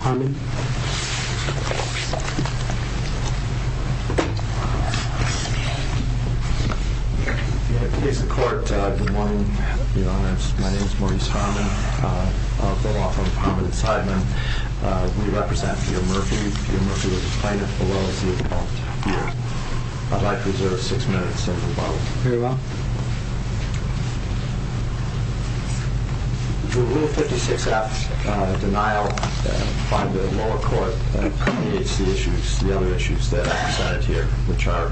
Harmon. In the case of court, good morning, Your Honor. My name is Maurice Harmon. I'll go off on Harmon and Sideman. We represent Peter Murphy. Peter Murphy will explain it as well as he's involved here. I'd like to reserve six minutes, Senator Barlow. Very well. The rule 56F, denial by the lower court, creates the issues, the other issues that I've decided here, which are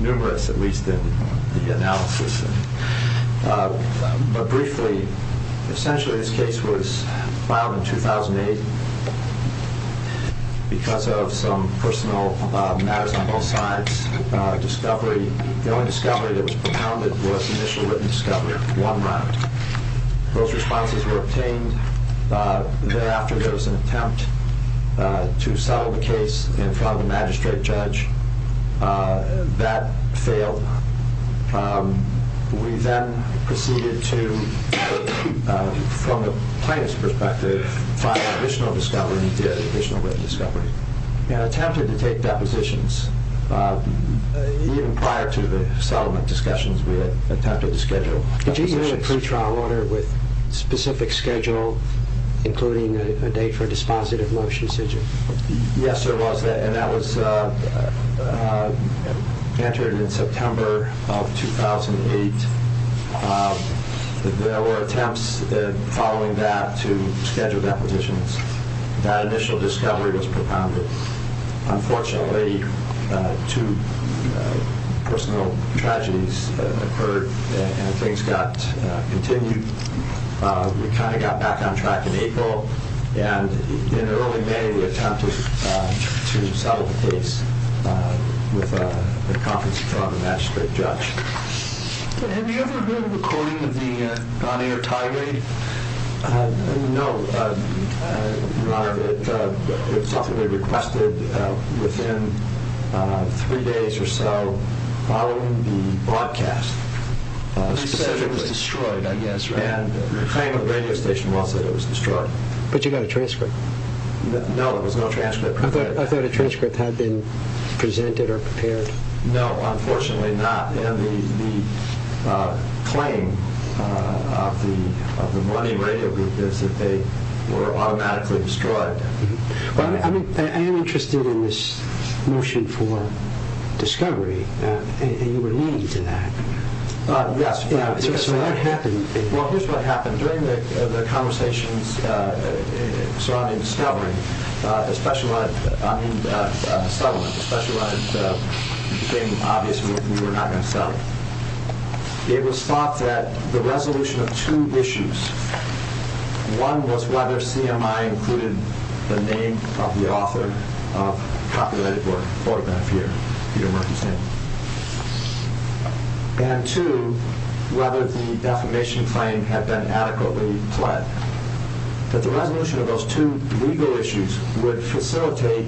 numerous, at least in the analysis. But briefly, essentially this case was filed in 2008 because of some personal matters on both sides, discovery. The only discovery that was propounded was initial written discovery, one round. Those responses were obtained. Thereafter, there was an attempt to settle the case in front of the magistrate judge. That failed. We then proceeded to, from a plaintiff's perspective, find additional discovery. We attempted to take depositions, even prior to the settlement discussions, we attempted to schedule depositions. Did you have a pre-trial order with specific schedule, including a date for a dispositive motion, did you? Yes, there was, and that was entered in September of 2008. There were attempts, following that, to schedule depositions. That initial discovery was propounded. Unfortunately, two personal tragedies occurred, and things got continued. We kind of got back on track in April, and in early May, we attempted to settle the case with a conference in front of the magistrate judge. Have you ever heard of the recording of the on-air tie raid? No, it was publicly requested within three days or so following the broadcast. You said it was destroyed, I guess, right? The claim of the radio station was that it was destroyed. But you got a transcript? No, there was no transcript. I thought a transcript had been presented or prepared. No, unfortunately not. The claim of the money radio group is that they were automatically destroyed. I am interested in this motion for discovery, and you were leading to that. Yes. So what happened? Well, here's what happened. During the conversations surrounding the settlement, especially when it became obvious that we were not going to sell it, it was thought that the resolution of two issues, one was whether CMI included the name of the author of the populated photograph here, Peter Murphy's name, and two, whether the defamation claim had been adequately fled, that the resolution of those two legal issues would facilitate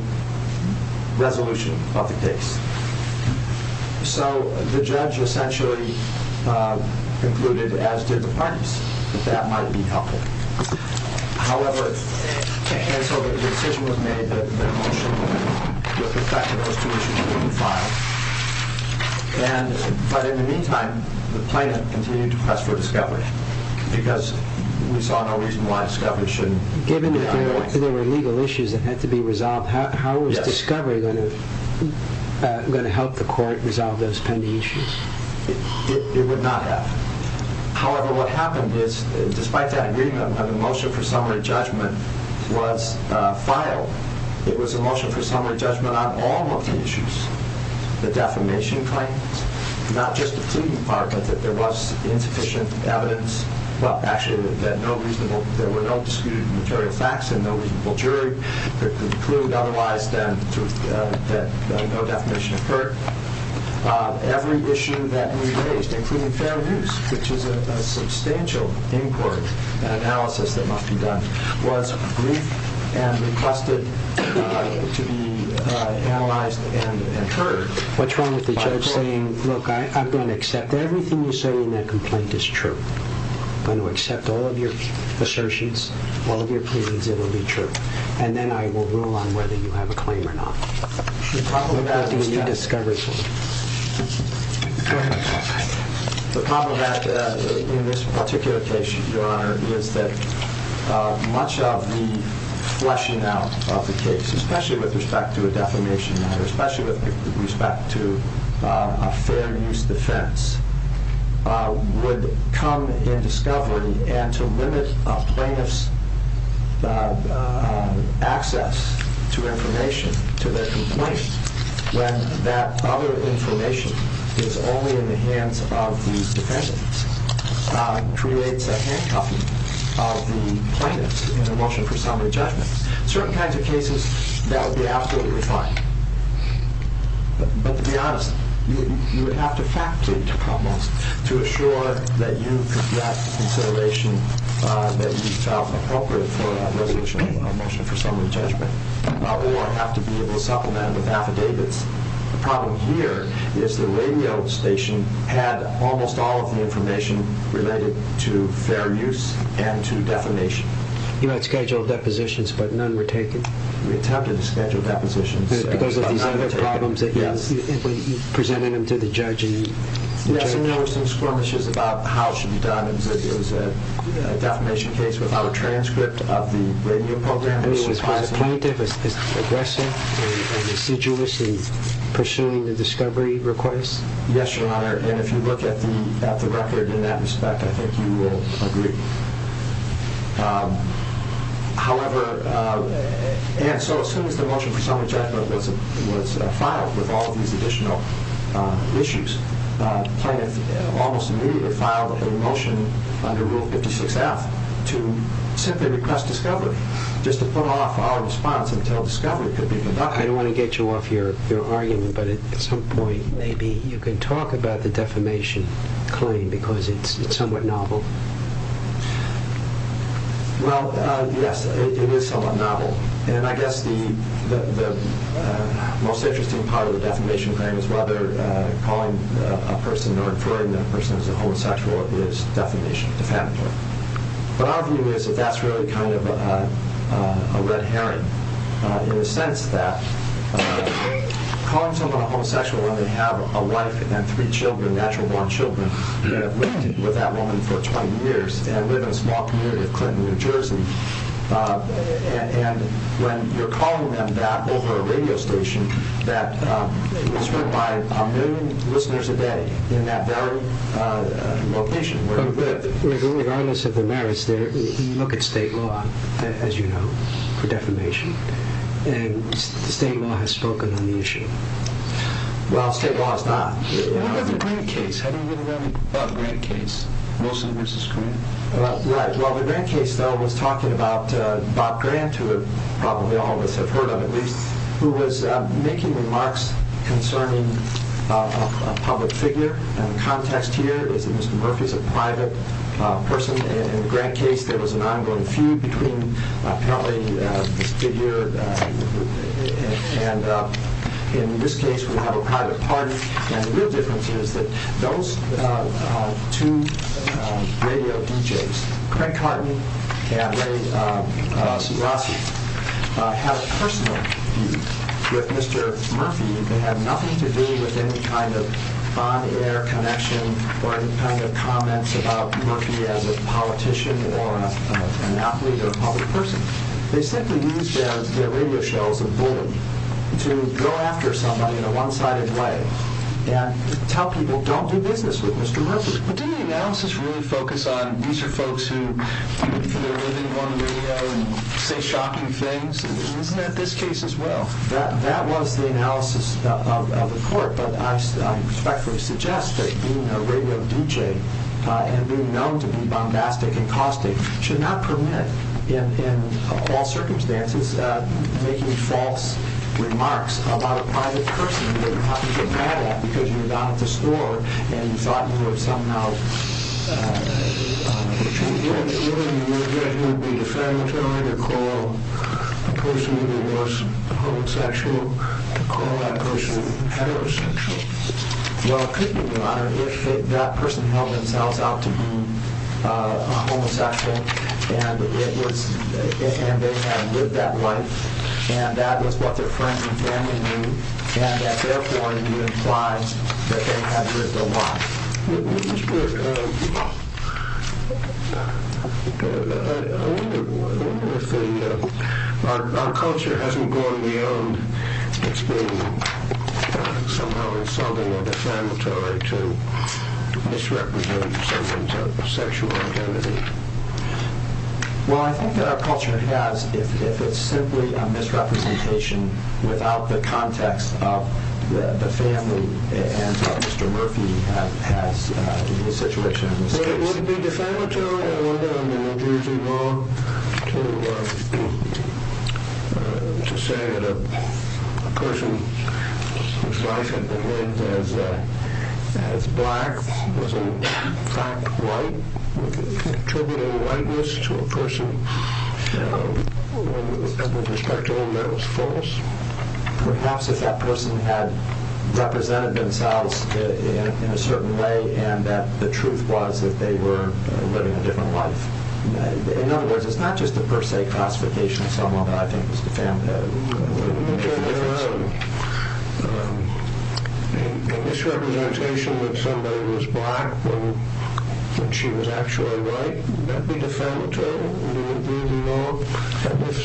resolution of the case. So the judge essentially concluded, as did the plaintiffs, that that might be helpful. However, so the decision was made that the motion would protect those two issues from being filed. But in the meantime, the plaintiff continued to press for discovery, because we saw no reason why discovery shouldn't be an option. Given that there were legal issues that had to be resolved, how was discovery going to help the court resolve those pending issues? It would not have. However, what happened is, despite that agreement, when the motion for summary judgment was filed, it was a motion for summary judgment on all of the issues, the defamation claims, not just the plea department, that there was insufficient evidence, well, actually, that there were no disputed material facts and no reasonable jury, that concluded otherwise that no defamation occurred. Every issue that we raised, including Fair News, which is a substantial inquiry and analysis that must be done, was briefed and requested to be analyzed and heard by the court. What's wrong with the judge saying, look, I'm going to accept everything you say in that complaint is true? I'm going to accept all of your associates, all of your pleas, it will be true. And then I will rule on whether you have a claim or not. The problem with that is that in this particular case, Your Honor, is that much of the fleshing out of the case, especially with respect to a defamation matter, especially with respect to a Fair News defense, would come in discovery and to limit a plaintiff's access to information, to their complaint, when that other information is only in the hands of the defendants, creates a handcuffing of the plaintiffs in a motion for summary judgment. Certain kinds of cases, that would be absolutely fine. But to be honest, you would have to factor into problems to assure that you could get consideration that you felt appropriate for a resolution, a motion for summary judgment, or have to be able to supplement with affidavits. The problem here is the radio station had almost all of the information related to Fair News and to defamation. You had scheduled depositions, but none were taken. We attempted to schedule depositions, but none were taken. Because of these other problems, you presented them to the judge. Yes, and there were some squirmishes about how it should be done. It was a defamation case without a transcript of the radio program. So is the plaintiff aggressive and residuous in pursuing the discovery request? Yes, Your Honor, and if you look at the record in that respect, I think you will agree. However, as soon as the motion for summary judgment was filed with all of these additional issues, the plaintiff almost immediately filed a motion under Rule 56-F to simply request discovery, just to put off our response until discovery could be conducted. I don't want to get you off your argument, but at some point maybe you can talk about the defamation claim, because it's somewhat novel. Well, yes, it is somewhat novel, and I guess the most interesting part of the defamation claim is whether calling a person or inferring that a person is a homosexual is defamation, defamatory. But our view is that that's really kind of a red herring, in the sense that calling someone a homosexual when they have a wife and three children, natural-born children, who have lived with that woman for 20 years and live in a small community of Clinton, New Jersey, and when you're calling them that over a radio station that is heard by a million listeners a day in that very location where you live... Regardless of the merits there, when you look at state law, as you know, for defamation, state law has spoken on the issue. Well, state law has not. What about the Grant case? How do you get around the Grant case? Right, well, the Grant case, though, was talking about Bob Grant, who probably all of us have heard of, at least, who was making remarks concerning a public figure, and the context here is that Mr. Murphy is a private person. In the Grant case, there was an ongoing feud between, apparently, the studio and, in this case, we have a private party, and the real difference is that those two radio DJs, Craig Carton and Ray Suglossi, had a personal view with Mr. Murphy that had nothing to do with any kind of on-air connection or any kind of comments about Murphy as a politician or an athlete or a public person. They simply used him as their radio show's bully to go after somebody in a one-sided way and tell people, don't do business with Mr. Murphy. But didn't the analysis really focus on, these are folks who are living on the radio and say shocking things? Isn't that this case as well? That was the analysis of the court, but I respectfully suggest that being a radio DJ and being known to be bombastic and caustic should not permit, in all circumstances, making false remarks about a private person who you're talking to mad at because you're not at the store and you thought you would somehow... Even if you knew that he would be defamatory to call a person who was homosexual, to call that person heterosexual? Well, it could be, Your Honor, if that person held themselves out to be a homosexual and they had lived that life and that was what their friends and family knew and that therefore you imply that they had lived a lie. Our culture hasn't gone beyond its being somehow insulting or defamatory to misrepresent someone's sexual identity. Well, I think that our culture has if it's simply a misrepresentation without the context of the family and of Mr. Murphy and his situation in this case. But it wouldn't be defamatory, Your Honor, on the New Jersey law to say that a person whose life had been lived as black was in fact white? Contributing whiteness to a person who was heterosexual and that was false? Perhaps if that person had represented themselves in a certain way and that the truth was that they were living a different life. In other words, it's not just a per se classification of someone that I think is defamatory. Your Honor, a misrepresentation that somebody was black when she was actually white would that be defamatory? Would it be, Your Honor? And if so,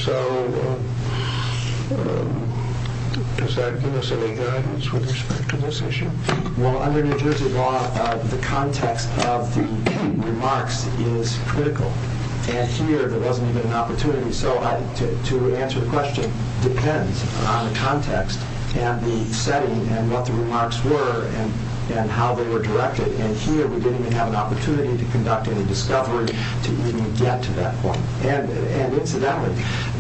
does that give us any guidance with respect to this issue? Well, under New Jersey law, the context of the remarks is critical. And here there wasn't even an opportunity to answer the question. It depends on the context and the setting and what the remarks were and how they were directed. And here we didn't even have an opportunity to conduct any discovery to even get to that point. And incidentally,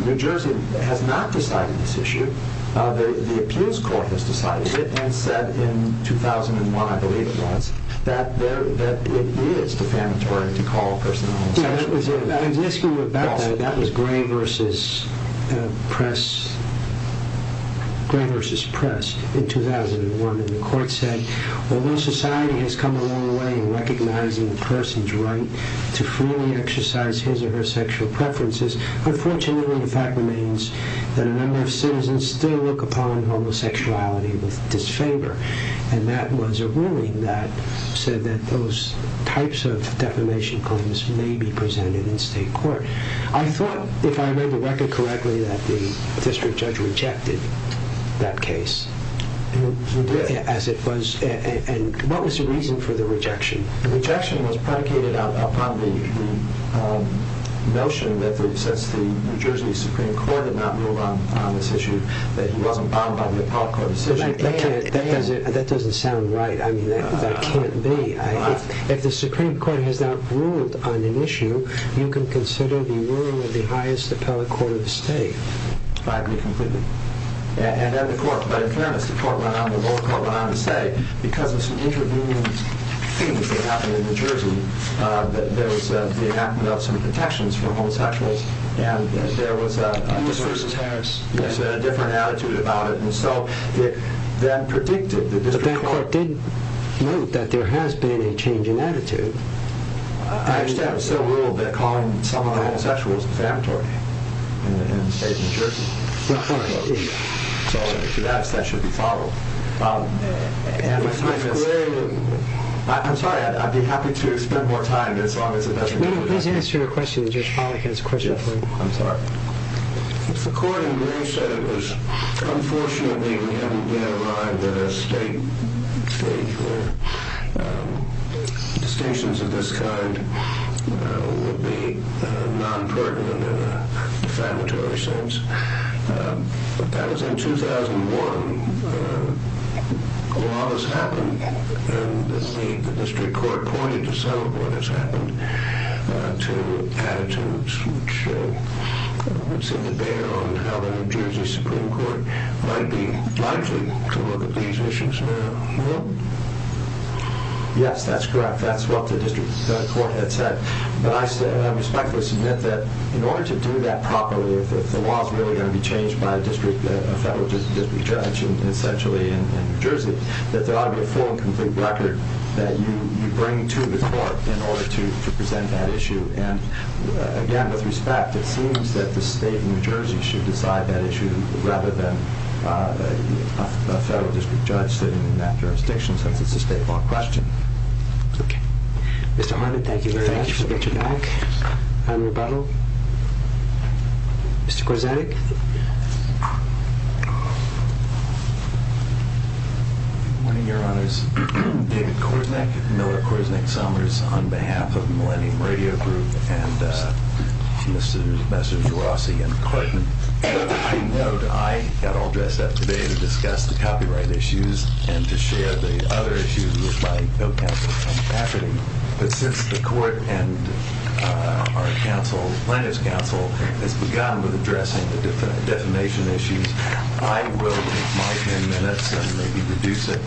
New Jersey has not decided this issue. The appeals court has decided it and said in 2001, I believe it was, that it is defamatory to call a person homosexual. I was asking you about that. That was Gray v. Press in 2001. And the court said, although society has come a long way in recognizing a person's right to freely exercise his or her sexual preferences, unfortunately the fact remains that a number of citizens still look upon homosexuality with disfavor. And that was a ruling that said that those types of defamation claims may be presented in state court. I thought, if I remember correctly, that the district judge rejected that case. He did. And what was the reason for the rejection? The rejection was predicated upon the notion that since the New Jersey Supreme Court had not ruled on this issue, that he wasn't bound by the appellate court decision. That doesn't sound right. I mean, that can't be. If the Supreme Court has not ruled on an issue, you can consider the ruling of the highest appellate court of the state. And then the court, but in fairness, the court went on to say, because of some intervening things that happened in New Jersey, there was the enactment of some protections for homosexuals, and there was a different attitude about it. And so that predicted the district court. But that court did note that there has been a change in attitude. I understand it's still ruled that calling someone a homosexual is defamatory in the state of New Jersey. So to that, that should be followed. I'm sorry, I'd be happy to spend more time, as long as it doesn't... No, no, please answer your question. Judge Pollack has a question for you. I'm sorry. The court in Gray said it was, unfortunately, we haven't yet arrived at a state where distinctions of this kind would be non-pertinent in a defamatory sense. As in 2001, a lot has happened, and the district court pointed to some of what has happened, to attitudes which seem to bear on how the New Jersey Supreme Court might be likely to look at these issues now. Yes, that's correct. That's what the district court had said. But I respectfully submit that in order to do that properly, if the law is really going to be changed by a federal district judge, essentially in New Jersey, that there ought to be a full and complete record that you bring to the court in order to present that issue. And again, with respect, it seems that the state of New Jersey should decide that issue rather than a federal district judge sitting in that jurisdiction, since it's a state-law question. Okay. Mr. Harned, thank you very much for getting back on rebuttal. Mr. Korzenik? Good morning, Your Honors. David Korzenik, Miller Korzenik Summers, on behalf of Millennium Radio Group and Mr. Jourossi and the court. I note I got all dressed up today to discuss the copyright issues and to share the other issues with my co-counsel, Tom Packerty. But since the court and our counsel, the plaintiff's counsel, has begun with addressing the defamation issues, I will take my 10 minutes and maybe reduce it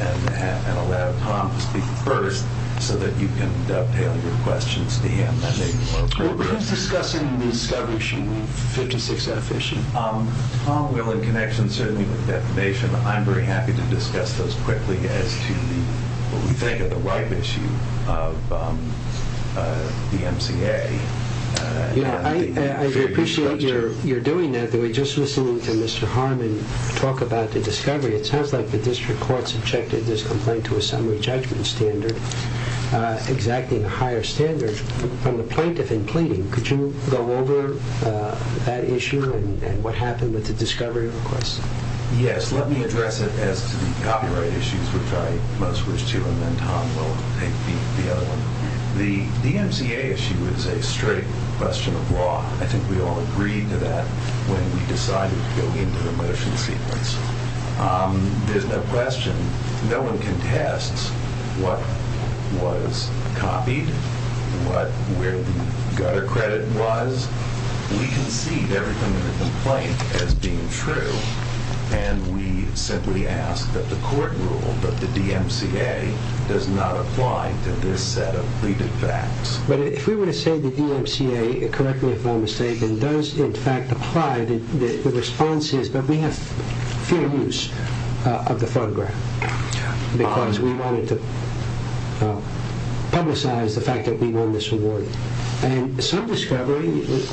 and allow Tom to speak first so that you can dovetail your questions to him. Who's discussing the discovery issue, the 56F issue? Well, in connection certainly with defamation, I'm very happy to discuss those quickly as to what we think of the right issue of the MCA. I appreciate you're doing that. We were just listening to Mr. Harned talk about the discovery. It sounds like the district court subjected this complaint to a summary judgment standard, exactly a higher standard. From the plaintiff in pleading, could you go over that issue and what happened with the discovery request? Yes, let me address it as to the copyright issues, which I most wish to amend. Tom will, I think, beat the other one. The DMCA issue is a straight question of law. I think we all agreed to that when we decided to go into the motion sequence. There's no question. No one contests what was copied, where the gutter credit was. We concede everything in the complaint as being true and we simply ask that the court rule that the DMCA does not apply to this set of repeated facts. But if we were to say the DMCA, correct me if I'm mistaken, does in fact apply, the response is that we have fair use of the photograph because we wanted to publicize the fact that we won this award. And some discovery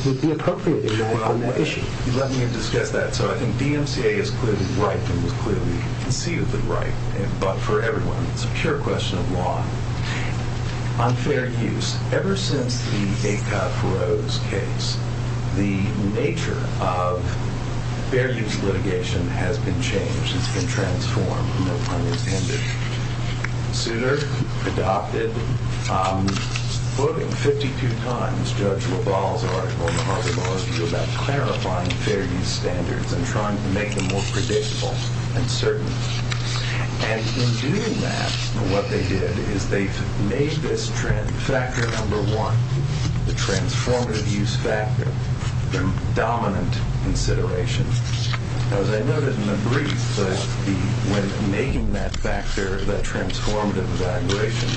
would be appropriate on that issue. Let me discuss that. So I think DMCA is clearly right and was clearly conceived right, but for everyone, it's a pure question of law. On fair use, ever since the Ayka Feroz case, the nature of fair use litigation has been changed. It's been transformed. Souter adopted, voting 52 times, Judge LaValle's article in the Harvard Law Review about clarifying fair use standards and trying to make them more predictable and certain. And in doing that, what they did is they made this factor number one, the transformative use factor, the dominant consideration. As I noted in the brief, when making that factor, that transformative evaluation,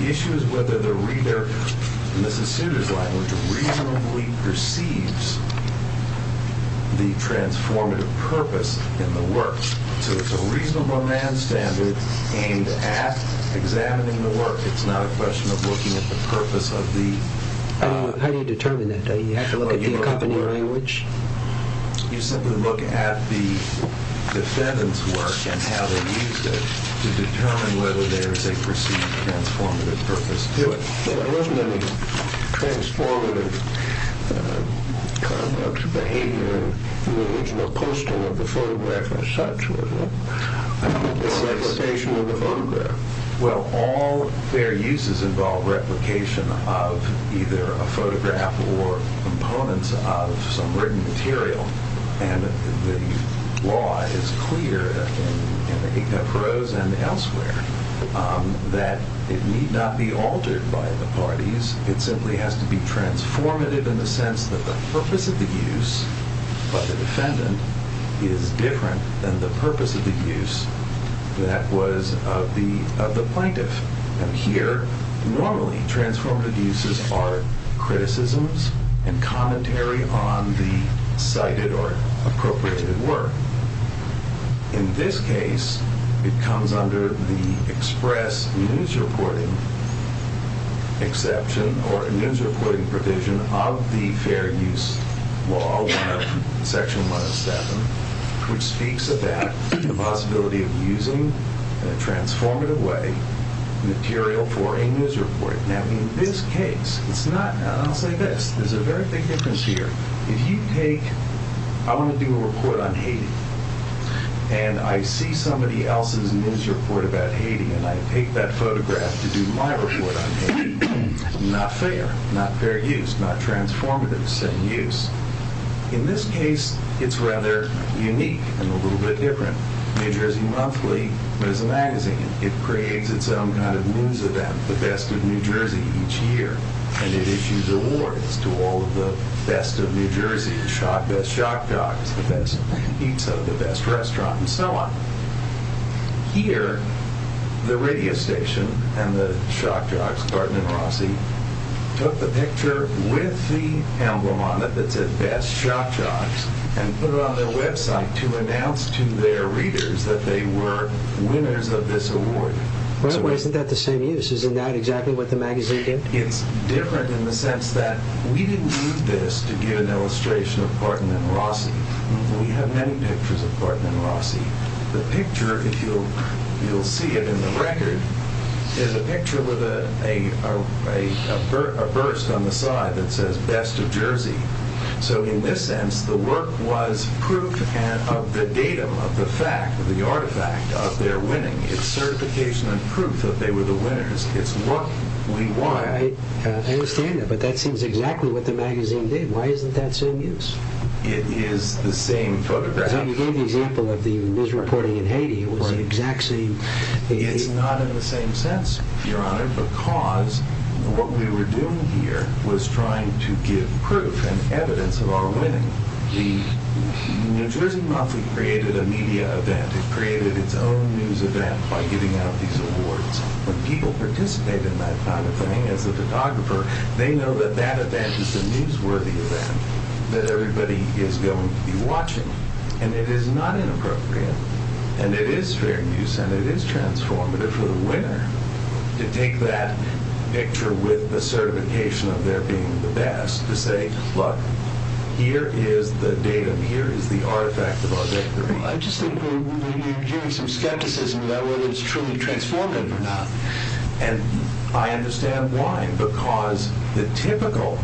the issue is whether the reader in Mrs. Souter's language reasonably perceives the transformative purpose in the work. So it's a reasonable man standard aimed at examining the work. It's not a question of looking at the purpose of the… How do you determine that? Do you have to look at the accompanying language? You simply look at the defendant's work and how they used it to determine whether there is a perceived transformative purpose to it. But there wasn't any transformative conduct or behavior in the original posting of the photograph as such, was there? Well, all fair uses involve replication of either a photograph or components of some written material. And the law is clear in the case of Feroz and elsewhere that it need not be altered by the parties. It simply has to be transformative in the sense that the purpose of the use by the defendant is different than the purpose of the use that was of the plaintiff. And here, normally, transformative uses are criticisms and commentary on the cited or appropriated work. In this case, it comes under the express news reporting exception or news reporting provision of the Fair Use Law, Section 107, which speaks of that possibility of using, in a transformative way, material for a news report. Now, in this case, it's not, and I'll say this, there's a very big difference here. If you take, I want to do a report on Haiti, and I see somebody else's news report about Haiti, and I take that photograph to do my report on Haiti, not fair, not fair use, not transformative use. In this case, it's rather unique and a little bit different. New Jersey Monthly is a magazine. It creates its own kind of news event, the Best of New Jersey, each year. And it issues awards to all of the best of New Jersey, the Best Shock Jogs, the Best Pizza, the Best Restaurant, and so on. Here, the radio station and the Shock Jogs, Barton and Rossi, took the picture with the emblem on it that said Best Shock Jogs and put it on their website to announce to their readers that they were winners of this award. Well, isn't that the same use? Isn't that exactly what the magazine did? It's different in the sense that we didn't use this to give an illustration of Barton and Rossi. We have many pictures of Barton and Rossi. The picture, if you'll see it in the record, is a picture with a burst on the side that says Best of Jersey. So in this sense, the work was proof of the datum, of the fact, of the artifact, of their winning. It's certification and proof that they were the winners. It's what we won. I understand that, but that seems exactly what the magazine did. Why isn't that the same use? It is the same photograph. So you gave the example of the misreporting in Haiti. It was the exact same... It's not in the same sense, Your Honor, because what we were doing here was trying to give proof and evidence of our winning. The New Jersey Monthly created a media event. It created its own news event by giving out these awards. When people participate in that kind of thing, as a photographer, they know that that event is a newsworthy event that everybody is going to be watching. And it is not inappropriate. And it is fair use, and it is transformative for the winner to take that picture with the certification of their being the best, to say, look, here is the datum, here is the artifact of our victory. I just think you're giving some skepticism about whether it's truly transformative or not. And I understand why, because the typical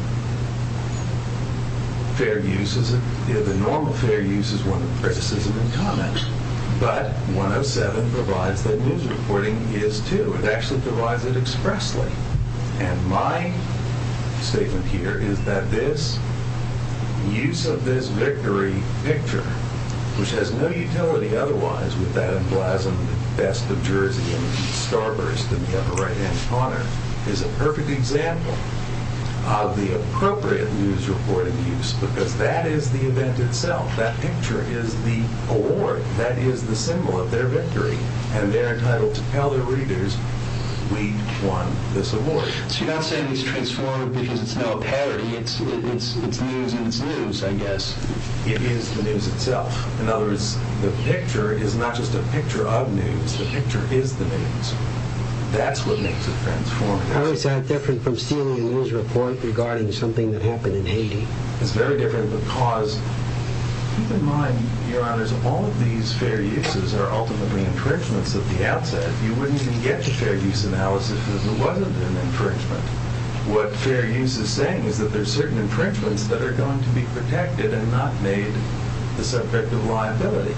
fair use, the normal fair use is one of criticism and comment. But 107 provides that news reporting is too. It actually provides it expressly. And my statement here is that this use of this victory picture, which has no utility otherwise with that emblazoned Best of Jersey and Starburst in the upper right-hand corner, is a perfect example of the appropriate news reporting use. Because that is the event itself. That picture is the award. That is the symbol of their victory. And they are entitled to tell their readers, we won this award. So you're not saying it's transformative because it's not a parody. It's news and it's news, I guess. It is the news itself. In other words, the picture is not just a picture of news. The picture is the news. That's what makes it transformative. How is that different from stealing a news report regarding something that happened in Haiti? It's very different because, keep in mind, Your Honors, all of these fair uses are ultimately infringements at the outset. You wouldn't even get the fair use analysis if it wasn't an infringement. What fair use is saying is that there are certain infringements that are going to be protected and not made the subject of liability.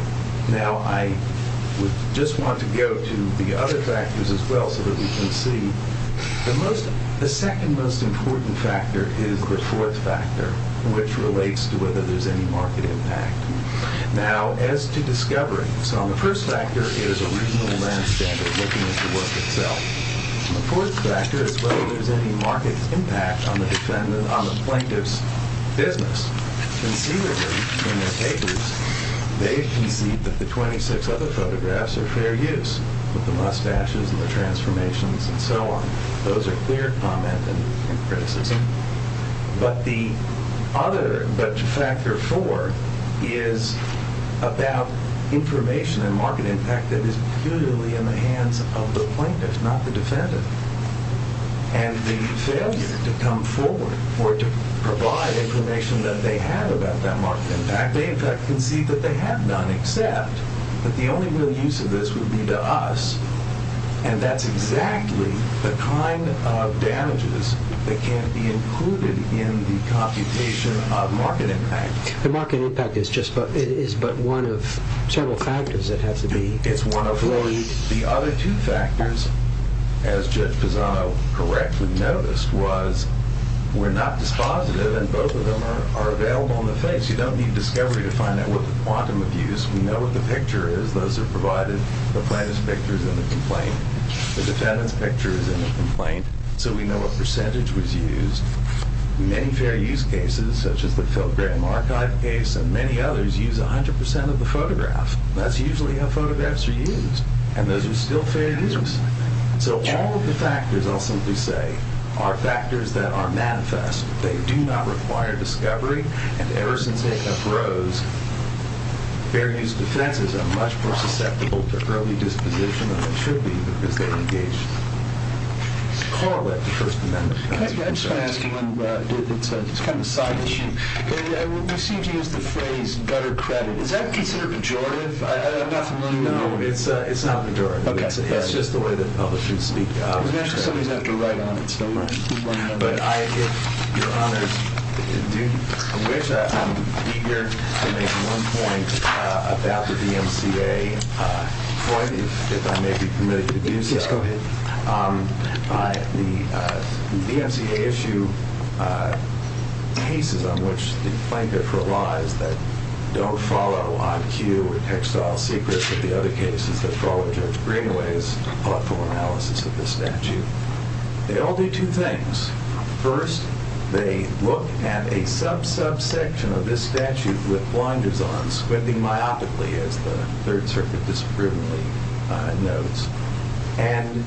Now, I just want to go to the other factors as well so that we can see. The second most important factor is the fourth factor, which relates to whether there's any market impact. Now, as to discovery, the first factor is a reasonable land standard looking at the work itself. The fourth factor is whether there's any market impact on the plaintiff's business. Conceivably, in their papers, they concede that the 26 other photographs are fair use, with the mustaches and the transformations and so on. Those are clear comment and criticism. But the other factor four is about information and market impact that is purely in the hands of the plaintiff, not the defendant. And the failure to come forward or to provide information that they have about that market impact, they, in fact, concede that they have none, except that the only real use of this would be to us, and that's exactly the kind of damages that can't be included in the computation of market impact. The market impact is but one of several factors. It has to be fully... The other two factors, as Judge Pisano correctly noticed, was we're not dispositive and both of them are available on the face. You don't need discovery to find out what the quantum of use. We know what the picture is. Those are provided. The plaintiff's picture is in the complaint. The defendant's picture is in the complaint. So we know what percentage was used. Many fair use cases, such as the Phil Gramm Archive case, and many others use 100% of the photograph. That's usually how photographs are used, and those are still fair use. So all of the factors, I'll simply say, are factors that are manifest. They do not require discovery. And ever since A.F. Rose, fair use defenses are much more susceptible to early disposition than they should be because they engage...correlate with the First Amendment. I'm just going to ask you one. It's kind of a side issue. We seem to use the phrase gutter credit. Is that considered pejorative? I'm not familiar with that. No, it's not pejorative. Okay. It's just the way the public should speak. We're going to have to write on it. But I, if Your Honor, do wish, I'm eager to make one point about the DMCA. If I may be permitted to do so. Yes, go ahead. The DMCA issue cases on which the plaintiff relies that don't follow on cue or textile secrets of the other cases that follow Judge Greenaway's thoughtful analysis of the statute. They all do two things. First, they look at a sub-subsection of this statute with blinders on, squinting myopically as the Third Circuit discriminately notes. And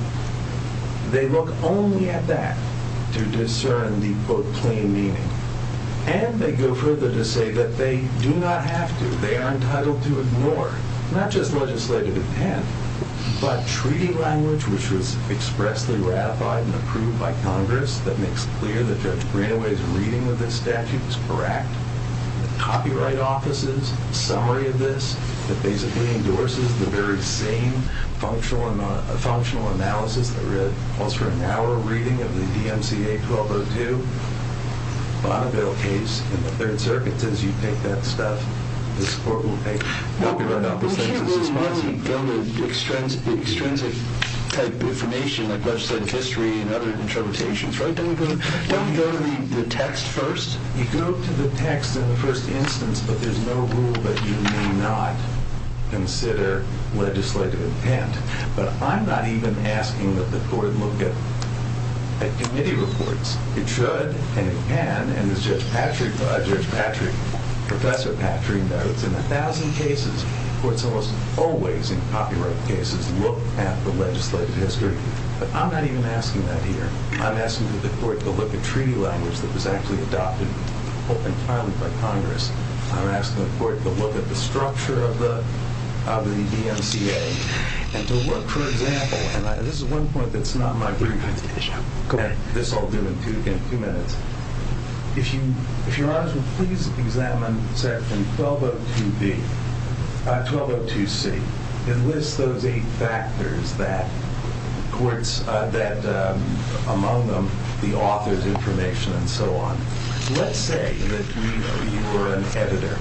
they look only at that to discern the quote plain meaning. And they go further to say that they do not have to. They are entitled to ignore, not just legislative intent, but treaty language which was expressly ratified and approved by Congress that makes clear that Judge Greenaway's reading of this statute was correct. The copyright offices summary of this that basically endorses the very same functional analysis that calls for an hour reading of the DMCA 1202 Bonneville case. And the Third Circuit says you take that stuff, this court will take it. We can't literally go to the extrinsic type information like legislative history and other interpretations, right? Don't we go to the text first? You go to the text in the first instance, but there's no rule that you may not consider legislative intent. But I'm not even asking that the court look at committee reports. It should, and it can, and as Judge Patrick, Professor Patrick notes, in a thousand cases where it's almost always in copyright cases, look at the legislative history. But I'm not even asking that here. I'm asking the court to look at treaty language that was actually adopted and filed by Congress. I'm asking the court to look at the structure of the DMCA and to look, for example, and this is one point that's not my brief, and this I'll do in two minutes. If you're honest with me, please examine section 1202B, 1202C. It lists those eight factors that courts, among them the author's information and so on. Let's say that you were an editor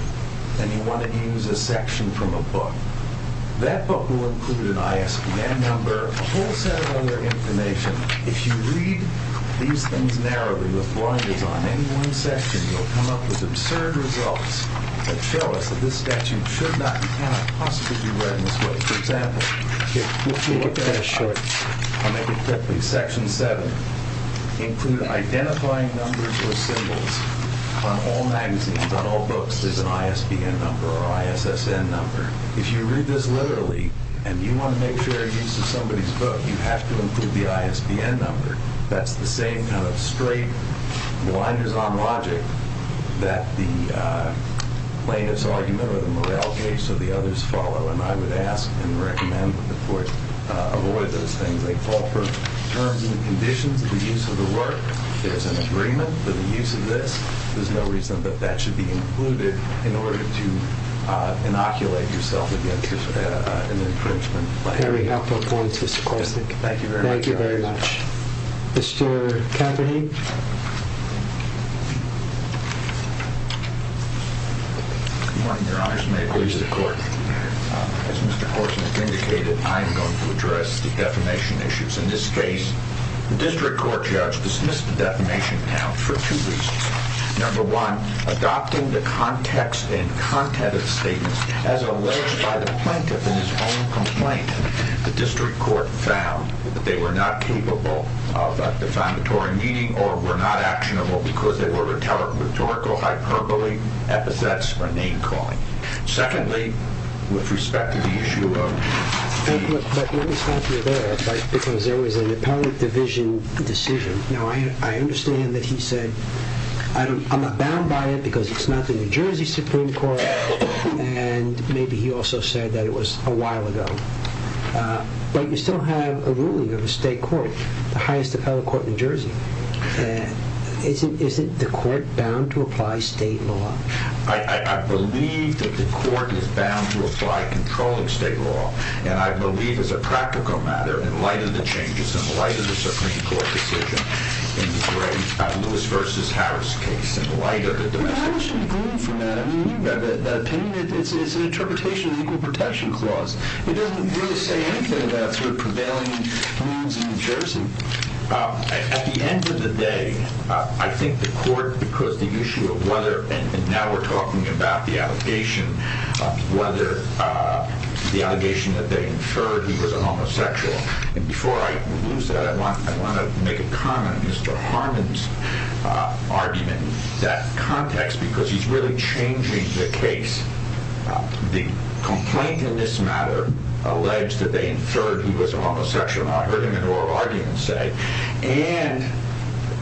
and you want to use a section from a book. That book will include an ISBN number, a whole set of other information. If you read these things narrowly with blinders on any one section, you'll come up with absurd results that show us that this statute should not and cannot possibly be read in this way. For example, if you look at a short, I'll make it quickly, section 7, include identifying numbers or symbols on all magazines, on all books, there's an ISBN number or ISSN number. If you read this literally and you want to make sure it uses somebody's book, you have to include the ISBN number. That's the same kind of straight blinders on logic that the plaintiff's argument or the Morrell case or the others follow, and I would ask and recommend that the court avoid those things. They call for terms and conditions of the use of the work. There's an agreement that the use of this, there's no reason that that should be included in order to inoculate yourself against an infringement. Very helpful point, Mr. Korsnick. Thank you very much. Thank you very much. Mr. Cafferty. Good morning, Your Honors. May it please the court. As Mr. Korsnick indicated, I am going to address the defamation issues. In this case, the district court judge dismissed the defamation count for two reasons. Number one, adopting the context and content of the statement as alleged by the plaintiff in his own complaint, the district court found that they were not capable of defamatory meaning or were not actionable because they were rhetorical, hyperbole, epithets, or name calling. Secondly, with respect to the issue of fees. But let me stop you there because there was an apparent division decision. Now, I understand that he said, I'm not bound by it because it's not the New Jersey Supreme Court. And maybe he also said that it was a while ago. But you still have a ruling of a state court, the highest appellate court in New Jersey. Isn't the court bound to apply state law? I believe that the court is bound to apply controlling state law. And I believe as a practical matter, in light of the changes, in light of the Supreme Court decision, in the great Lewis v. Harris case, in light of the domestic case. Well, why should you grieve for that? I mean, you have an opinion. It's an interpretation of the Equal Protection Clause. It doesn't really say anything about sort of prevailing views in New Jersey. At the end of the day, I think the court, because the issue of whether, and now we're talking about the allegation, whether the allegation that they inferred he was a homosexual. And before I lose that, I want to make a comment on Mr. Harmon's argument. That context, because he's really changing the case. The complaint in this matter alleged that they inferred he was a homosexual. And I heard him in oral argument say, and,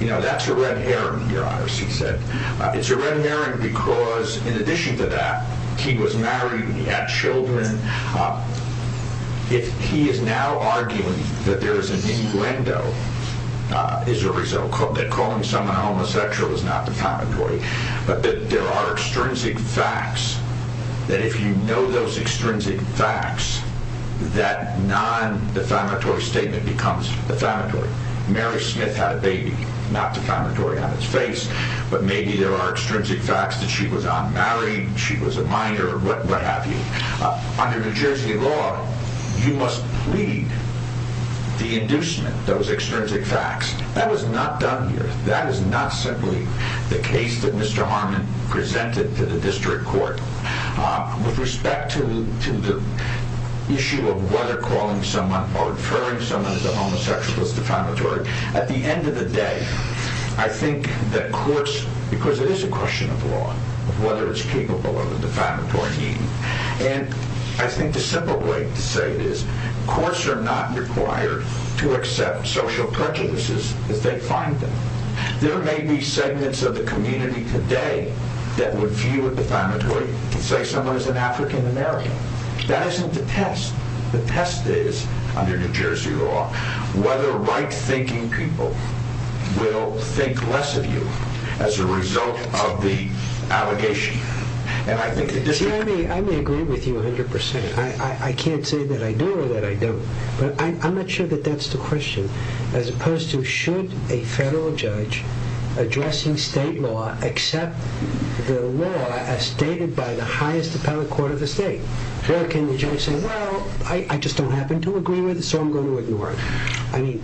you know, that's a red herring, Your Honors, he said. It's a red herring because, in addition to that, he was married and he had children. If he is now arguing that there is an innuendo as a result, that calling someone homosexual is not defamatory, but that there are extrinsic facts, that if you know those extrinsic facts, that non-defamatory statement becomes defamatory. Mary Smith had a baby, not defamatory on its face. But maybe there are extrinsic facts that she was unmarried, she was a minor, what have you. Under New Jersey law, you must plead the inducement, those extrinsic facts. That was not done here. That is not simply the case that Mr. Harmon presented to the district court. With respect to the issue of whether calling someone or inferring someone is a homosexual is defamatory, at the end of the day, I think that courts, because it is a question of law, whether it's capable of a defamatory meaning. And I think the simple way to say this, courts are not required to accept social prejudices as they find them. There may be segments of the community today that would view it defamatory, say someone is an African-American. That isn't the test. The test is, under New Jersey law, whether right-thinking people will think less of you as a result of the allegation. And I think the district... See, I may agree with you 100%. I can't say that I do or that I don't. But I'm not sure that that's the question. As opposed to, should a federal judge addressing state law accept the law as stated by the highest appellate court of the state? Or can the judge say, well, I just don't happen to agree with it, so I'm going to ignore it? I mean,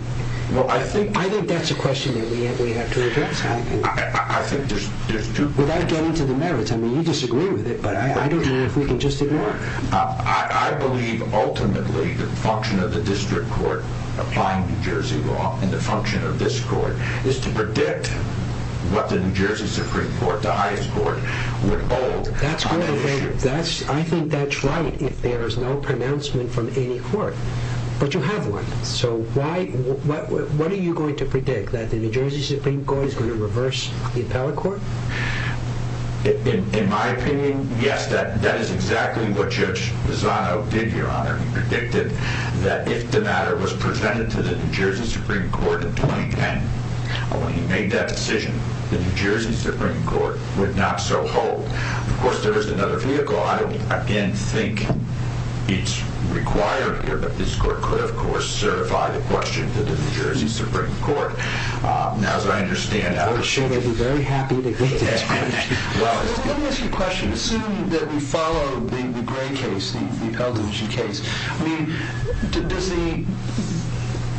I think that's a question that we have to address. I think there's two... Without getting to the merits, I mean, you disagree with it, but I don't know if we can just ignore it. I believe, ultimately, the function of the district court applying New Jersey law, and the function of this court, is to predict what the New Jersey Supreme Court, the highest court, would hold on that issue. I think that's right if there is no pronouncement from any court. But you have one. So what are you going to predict? That the New Jersey Supreme Court is going to reverse the appellate court? In my opinion, yes, that is exactly what Judge Lozano did, Your Honor. He predicted that if the matter was presented to the New Jersey Supreme Court in 2010, when he made that decision, the New Jersey Supreme Court would not so hold. Of course, there is another vehicle. I don't, again, think it's required here, but this court could, of course, certify the question to the New Jersey Supreme Court. As I understand it. I'm sure they'd be very happy to get to this point. Let me ask you a question. Assume that we follow the Gray case, the appellate division case. I mean,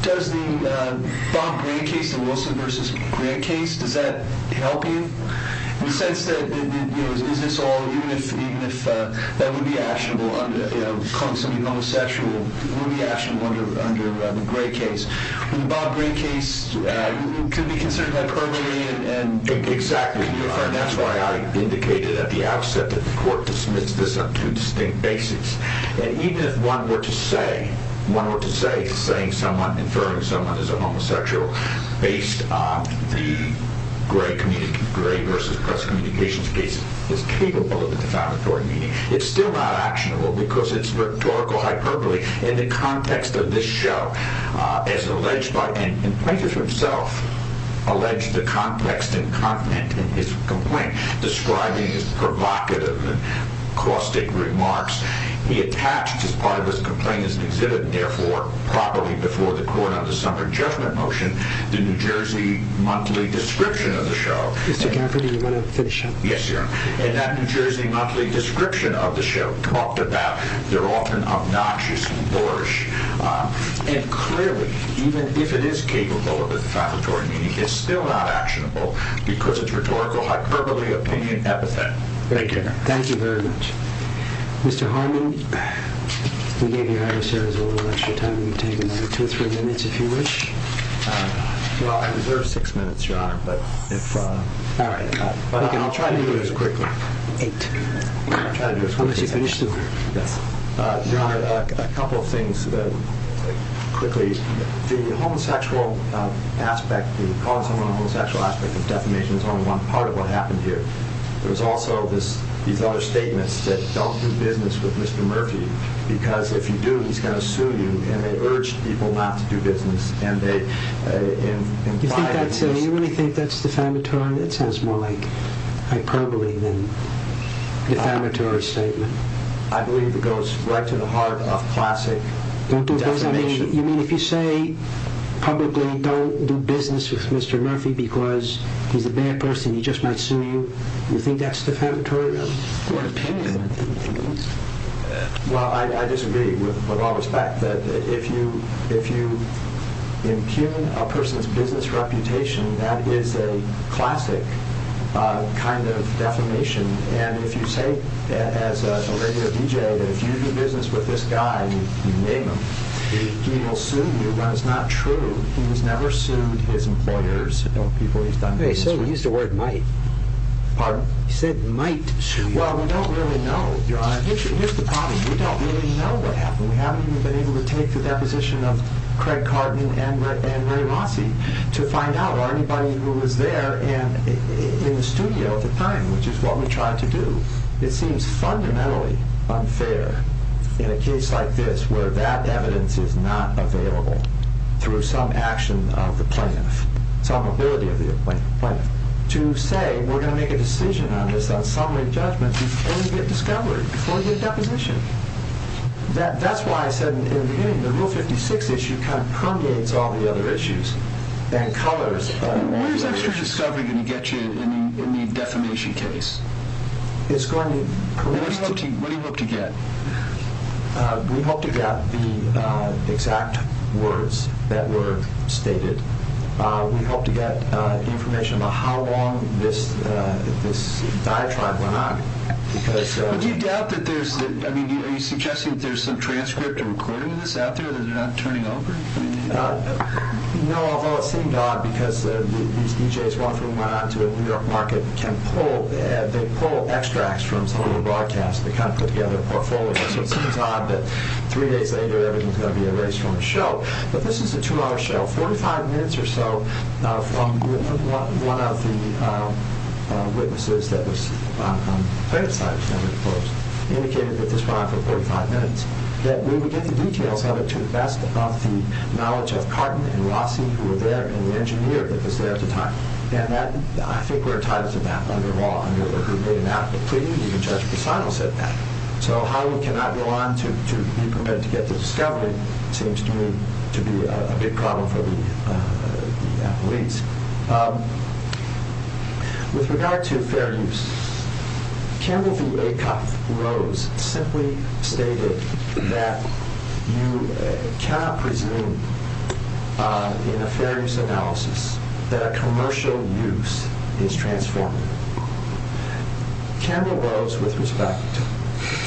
does the Bob Gray case, the Wilson v. Gray case, does that help you? In the sense that, you know, is this all, even if that would be actionable under, you know, calling somebody homosexual, it would be actionable under the Gray case. The Bob Gray case could be considered hyperbole. Exactly, Your Honor. That's why I indicated at the outset that the court dismissed this on two distinct bases. And even if one were to say, one were to say, saying someone, inferring someone is a homosexual, based on the Gray v. Press Communications case, is capable of a defamatory meaning. It's still not actionable because it's rhetorical hyperbole. Mr. Gafferty, in the context of this show, as alleged by, and the plaintiff himself alleged the context and content in his complaint, describing his provocative and caustic remarks, he attached as part of his complaint as an exhibit, and therefore, probably before the court on the summer judgment motion, the New Jersey monthly description of the show. Mr. Gafferty, you want to finish up? Yes, Your Honor. And that New Jersey monthly description of the show talked about they're often obnoxious and boorish. And clearly, even if it is capable of a defamatory meaning, it's still not actionable because it's rhetorical hyperbole, opinion, epithet. Thank you, Your Honor. Thank you very much. Mr. Harmon, we gave you a higher service over the lecture time. You've taken two or three minutes, if you wish. Well, I deserve six minutes, Your Honor. All right. I'll try to do it as quickly. Eight. I'll try to do it as quickly as I can. Unless you finish, too. Yes. Your Honor, a couple of things quickly. The homosexual aspect, the calling someone a homosexual aspect of defamation, is only one part of what happened here. There's also these other statements that don't do business with Mr. Murphy because if you do, he's going to sue you, and they urge people not to do business. You really think that's defamatory? It sounds more like hyperbole than defamatory statement. I believe it goes right to the heart of classic defamation. You mean if you say publicly, don't do business with Mr. Murphy because he's a bad person, he just might sue you, you think that's defamatory? Well, I disagree with all respect. If you impugn a person's business reputation, that is a classic kind of defamation, and if you say as a regular DJ that if you do business with this guy, you name him, he will sue you, but it's not true. He's never sued his employers or people he's done business with. Okay, so he used the word might. Pardon? He said might sue you. Well, we don't really know, Your Honor. Here's the problem. We don't really know what happened. We haven't even been able to take the deposition of Craig Carton and Ray Rossi to find out, or anybody who was there in the studio at the time, which is what we tried to do. It seems fundamentally unfair in a case like this where that evidence is not available through some action of the plaintiff, some ability of the plaintiff, to say we're going to make a decision on this on summary judgment before we get discovered, before we get a deposition. That's why I said in the beginning, the Rule 56 issue kind of permeates all the other issues and colors. What is extra discovery going to get you in the defamation case? It's going to... What do you hope to get? We hope to get the exact words that were stated. We hope to get information about how long this diatribe went on. Do you doubt that there's... Are you suggesting that there's some transcript of recording of this out there that they're not turning over? No, although it seemed odd, because these DJs, one of whom went on to a New York market, they pull extracts from some of the broadcasts. They kind of put together a portfolio. So it seems odd that three days later everything's going to be erased from the show. But this is a two-hour show, 45 minutes or so, from one of the witnesses that was on the plaintiff's side, indicated that this went on for 45 minutes, that we would get the details of it to the best of the knowledge of Carton and Rossi, who were there, and the engineer that was there at the time. And I think we're entitled to that under law, under who made an application. Even Judge Casano said that. So how we cannot go on to be permitted to get the discovery seems to me to be a big problem for the appellees. With regard to fair use, Campbell v. Acoff-Rose simply stated that you cannot presume in a fair use analysis that a commercial use is transformative. Campbell-Rose, with respect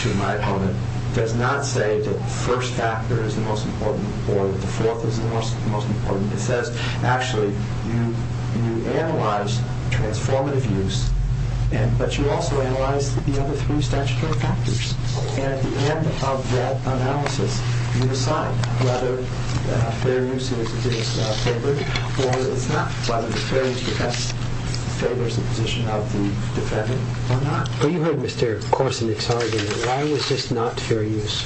to my opponent, does not say that the first factor is the most important or that the fourth is the most important. He says, actually, you analyze transformative use, but you also analyze the other three statutory factors. And at the end of that analysis, you decide whether fair use is favored or it's not, whether the fair use favors the position of the defendant or not. Well, you heard Mr. Korsenik's argument. Why was this not fair use?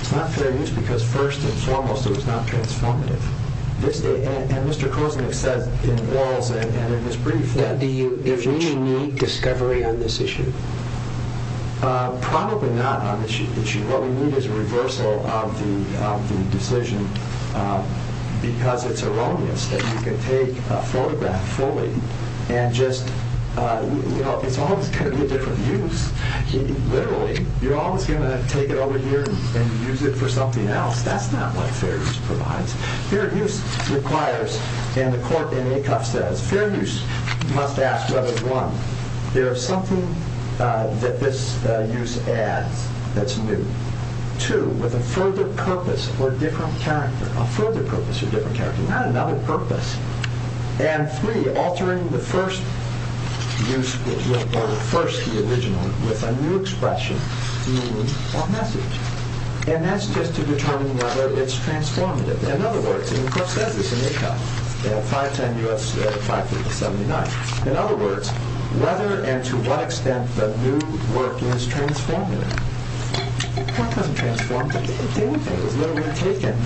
It's not fair use because, first and foremost, it was not transformative. And Mr. Korsenik says in Walz and in his brief that... Do you need discovery on this issue? Probably not on this issue. What we need is a reversal of the decision because it's erroneous that you can take a photograph fully and just... It's always going to be a different use. Literally, you're always going to take it over here and use it for something else. That's not what fair use provides. Fair use requires, and the court in ACUF says, fair use must ask whether, one, there is something that this use adds that's new. Two, with a further purpose or different character. A further purpose or different character, not another purpose. And three, altering the first use, or the first, the original, with a new expression meaning or message. And that's just to determine whether it's transformative. In other words, and the court says this in ACUF, 510 U.S. 5379. In other words, whether and to what extent the new work is transformative. The court doesn't transform it. It was literally taken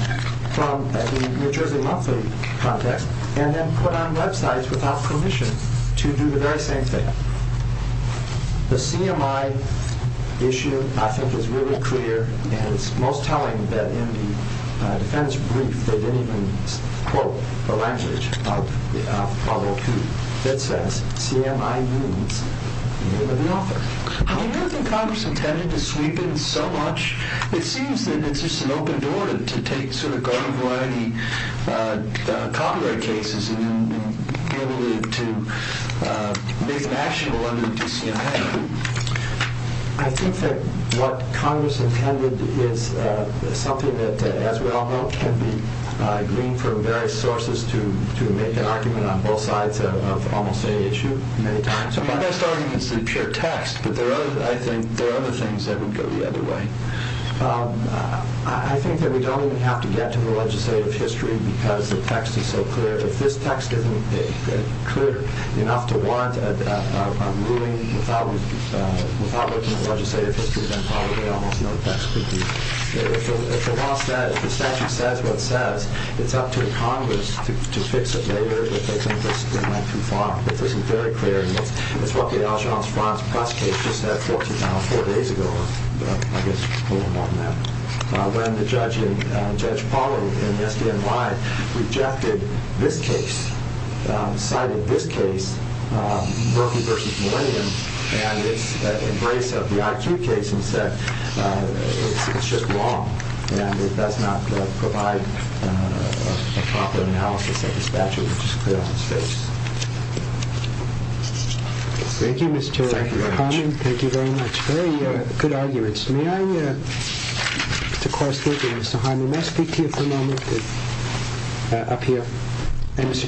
from the New Jersey Monthly project and then put on websites without permission to do the very same thing. The CMI issue, I think, is really clear, and it's most telling that in the defendant's brief, they didn't even quote the language of Pablo Coup. It says, CMI means the name of the author. Do you ever think Congress intended to sweep in so much? It seems that it's just an open door to take sort of garden variety copyright cases and then be able to make an actionable under the DCMA. I think that what Congress intended is something that, as we all know, can be gleaned from various sources to make an argument on both sides of almost any issue, many times. My best argument is the pure text, but I think there are other things that would go the other way. I think that we don't even have to get to the legislative history because the text is so clear. If this text isn't clear enough to warrant a ruling without looking at legislative history, then probably almost no text could be. If the law says, if the statute says what it says, it's up to Congress to fix it later if they think this went too far. If this is very clear, it's what the Aljeanse-France bus case just said 14 hours, four days ago, I guess a little more than that, when the judge in, Judge Polly in the SDNY rejected this case, cited this case, Berkeley versus Millennium, and its embrace of the IQ case and said, it's just wrong, and it does not provide a proper analysis of this statute, which is clear on its face. Thank you, Mr. Hyman. Thank you very much. Very good arguments. May I speak to you for a moment? Up here.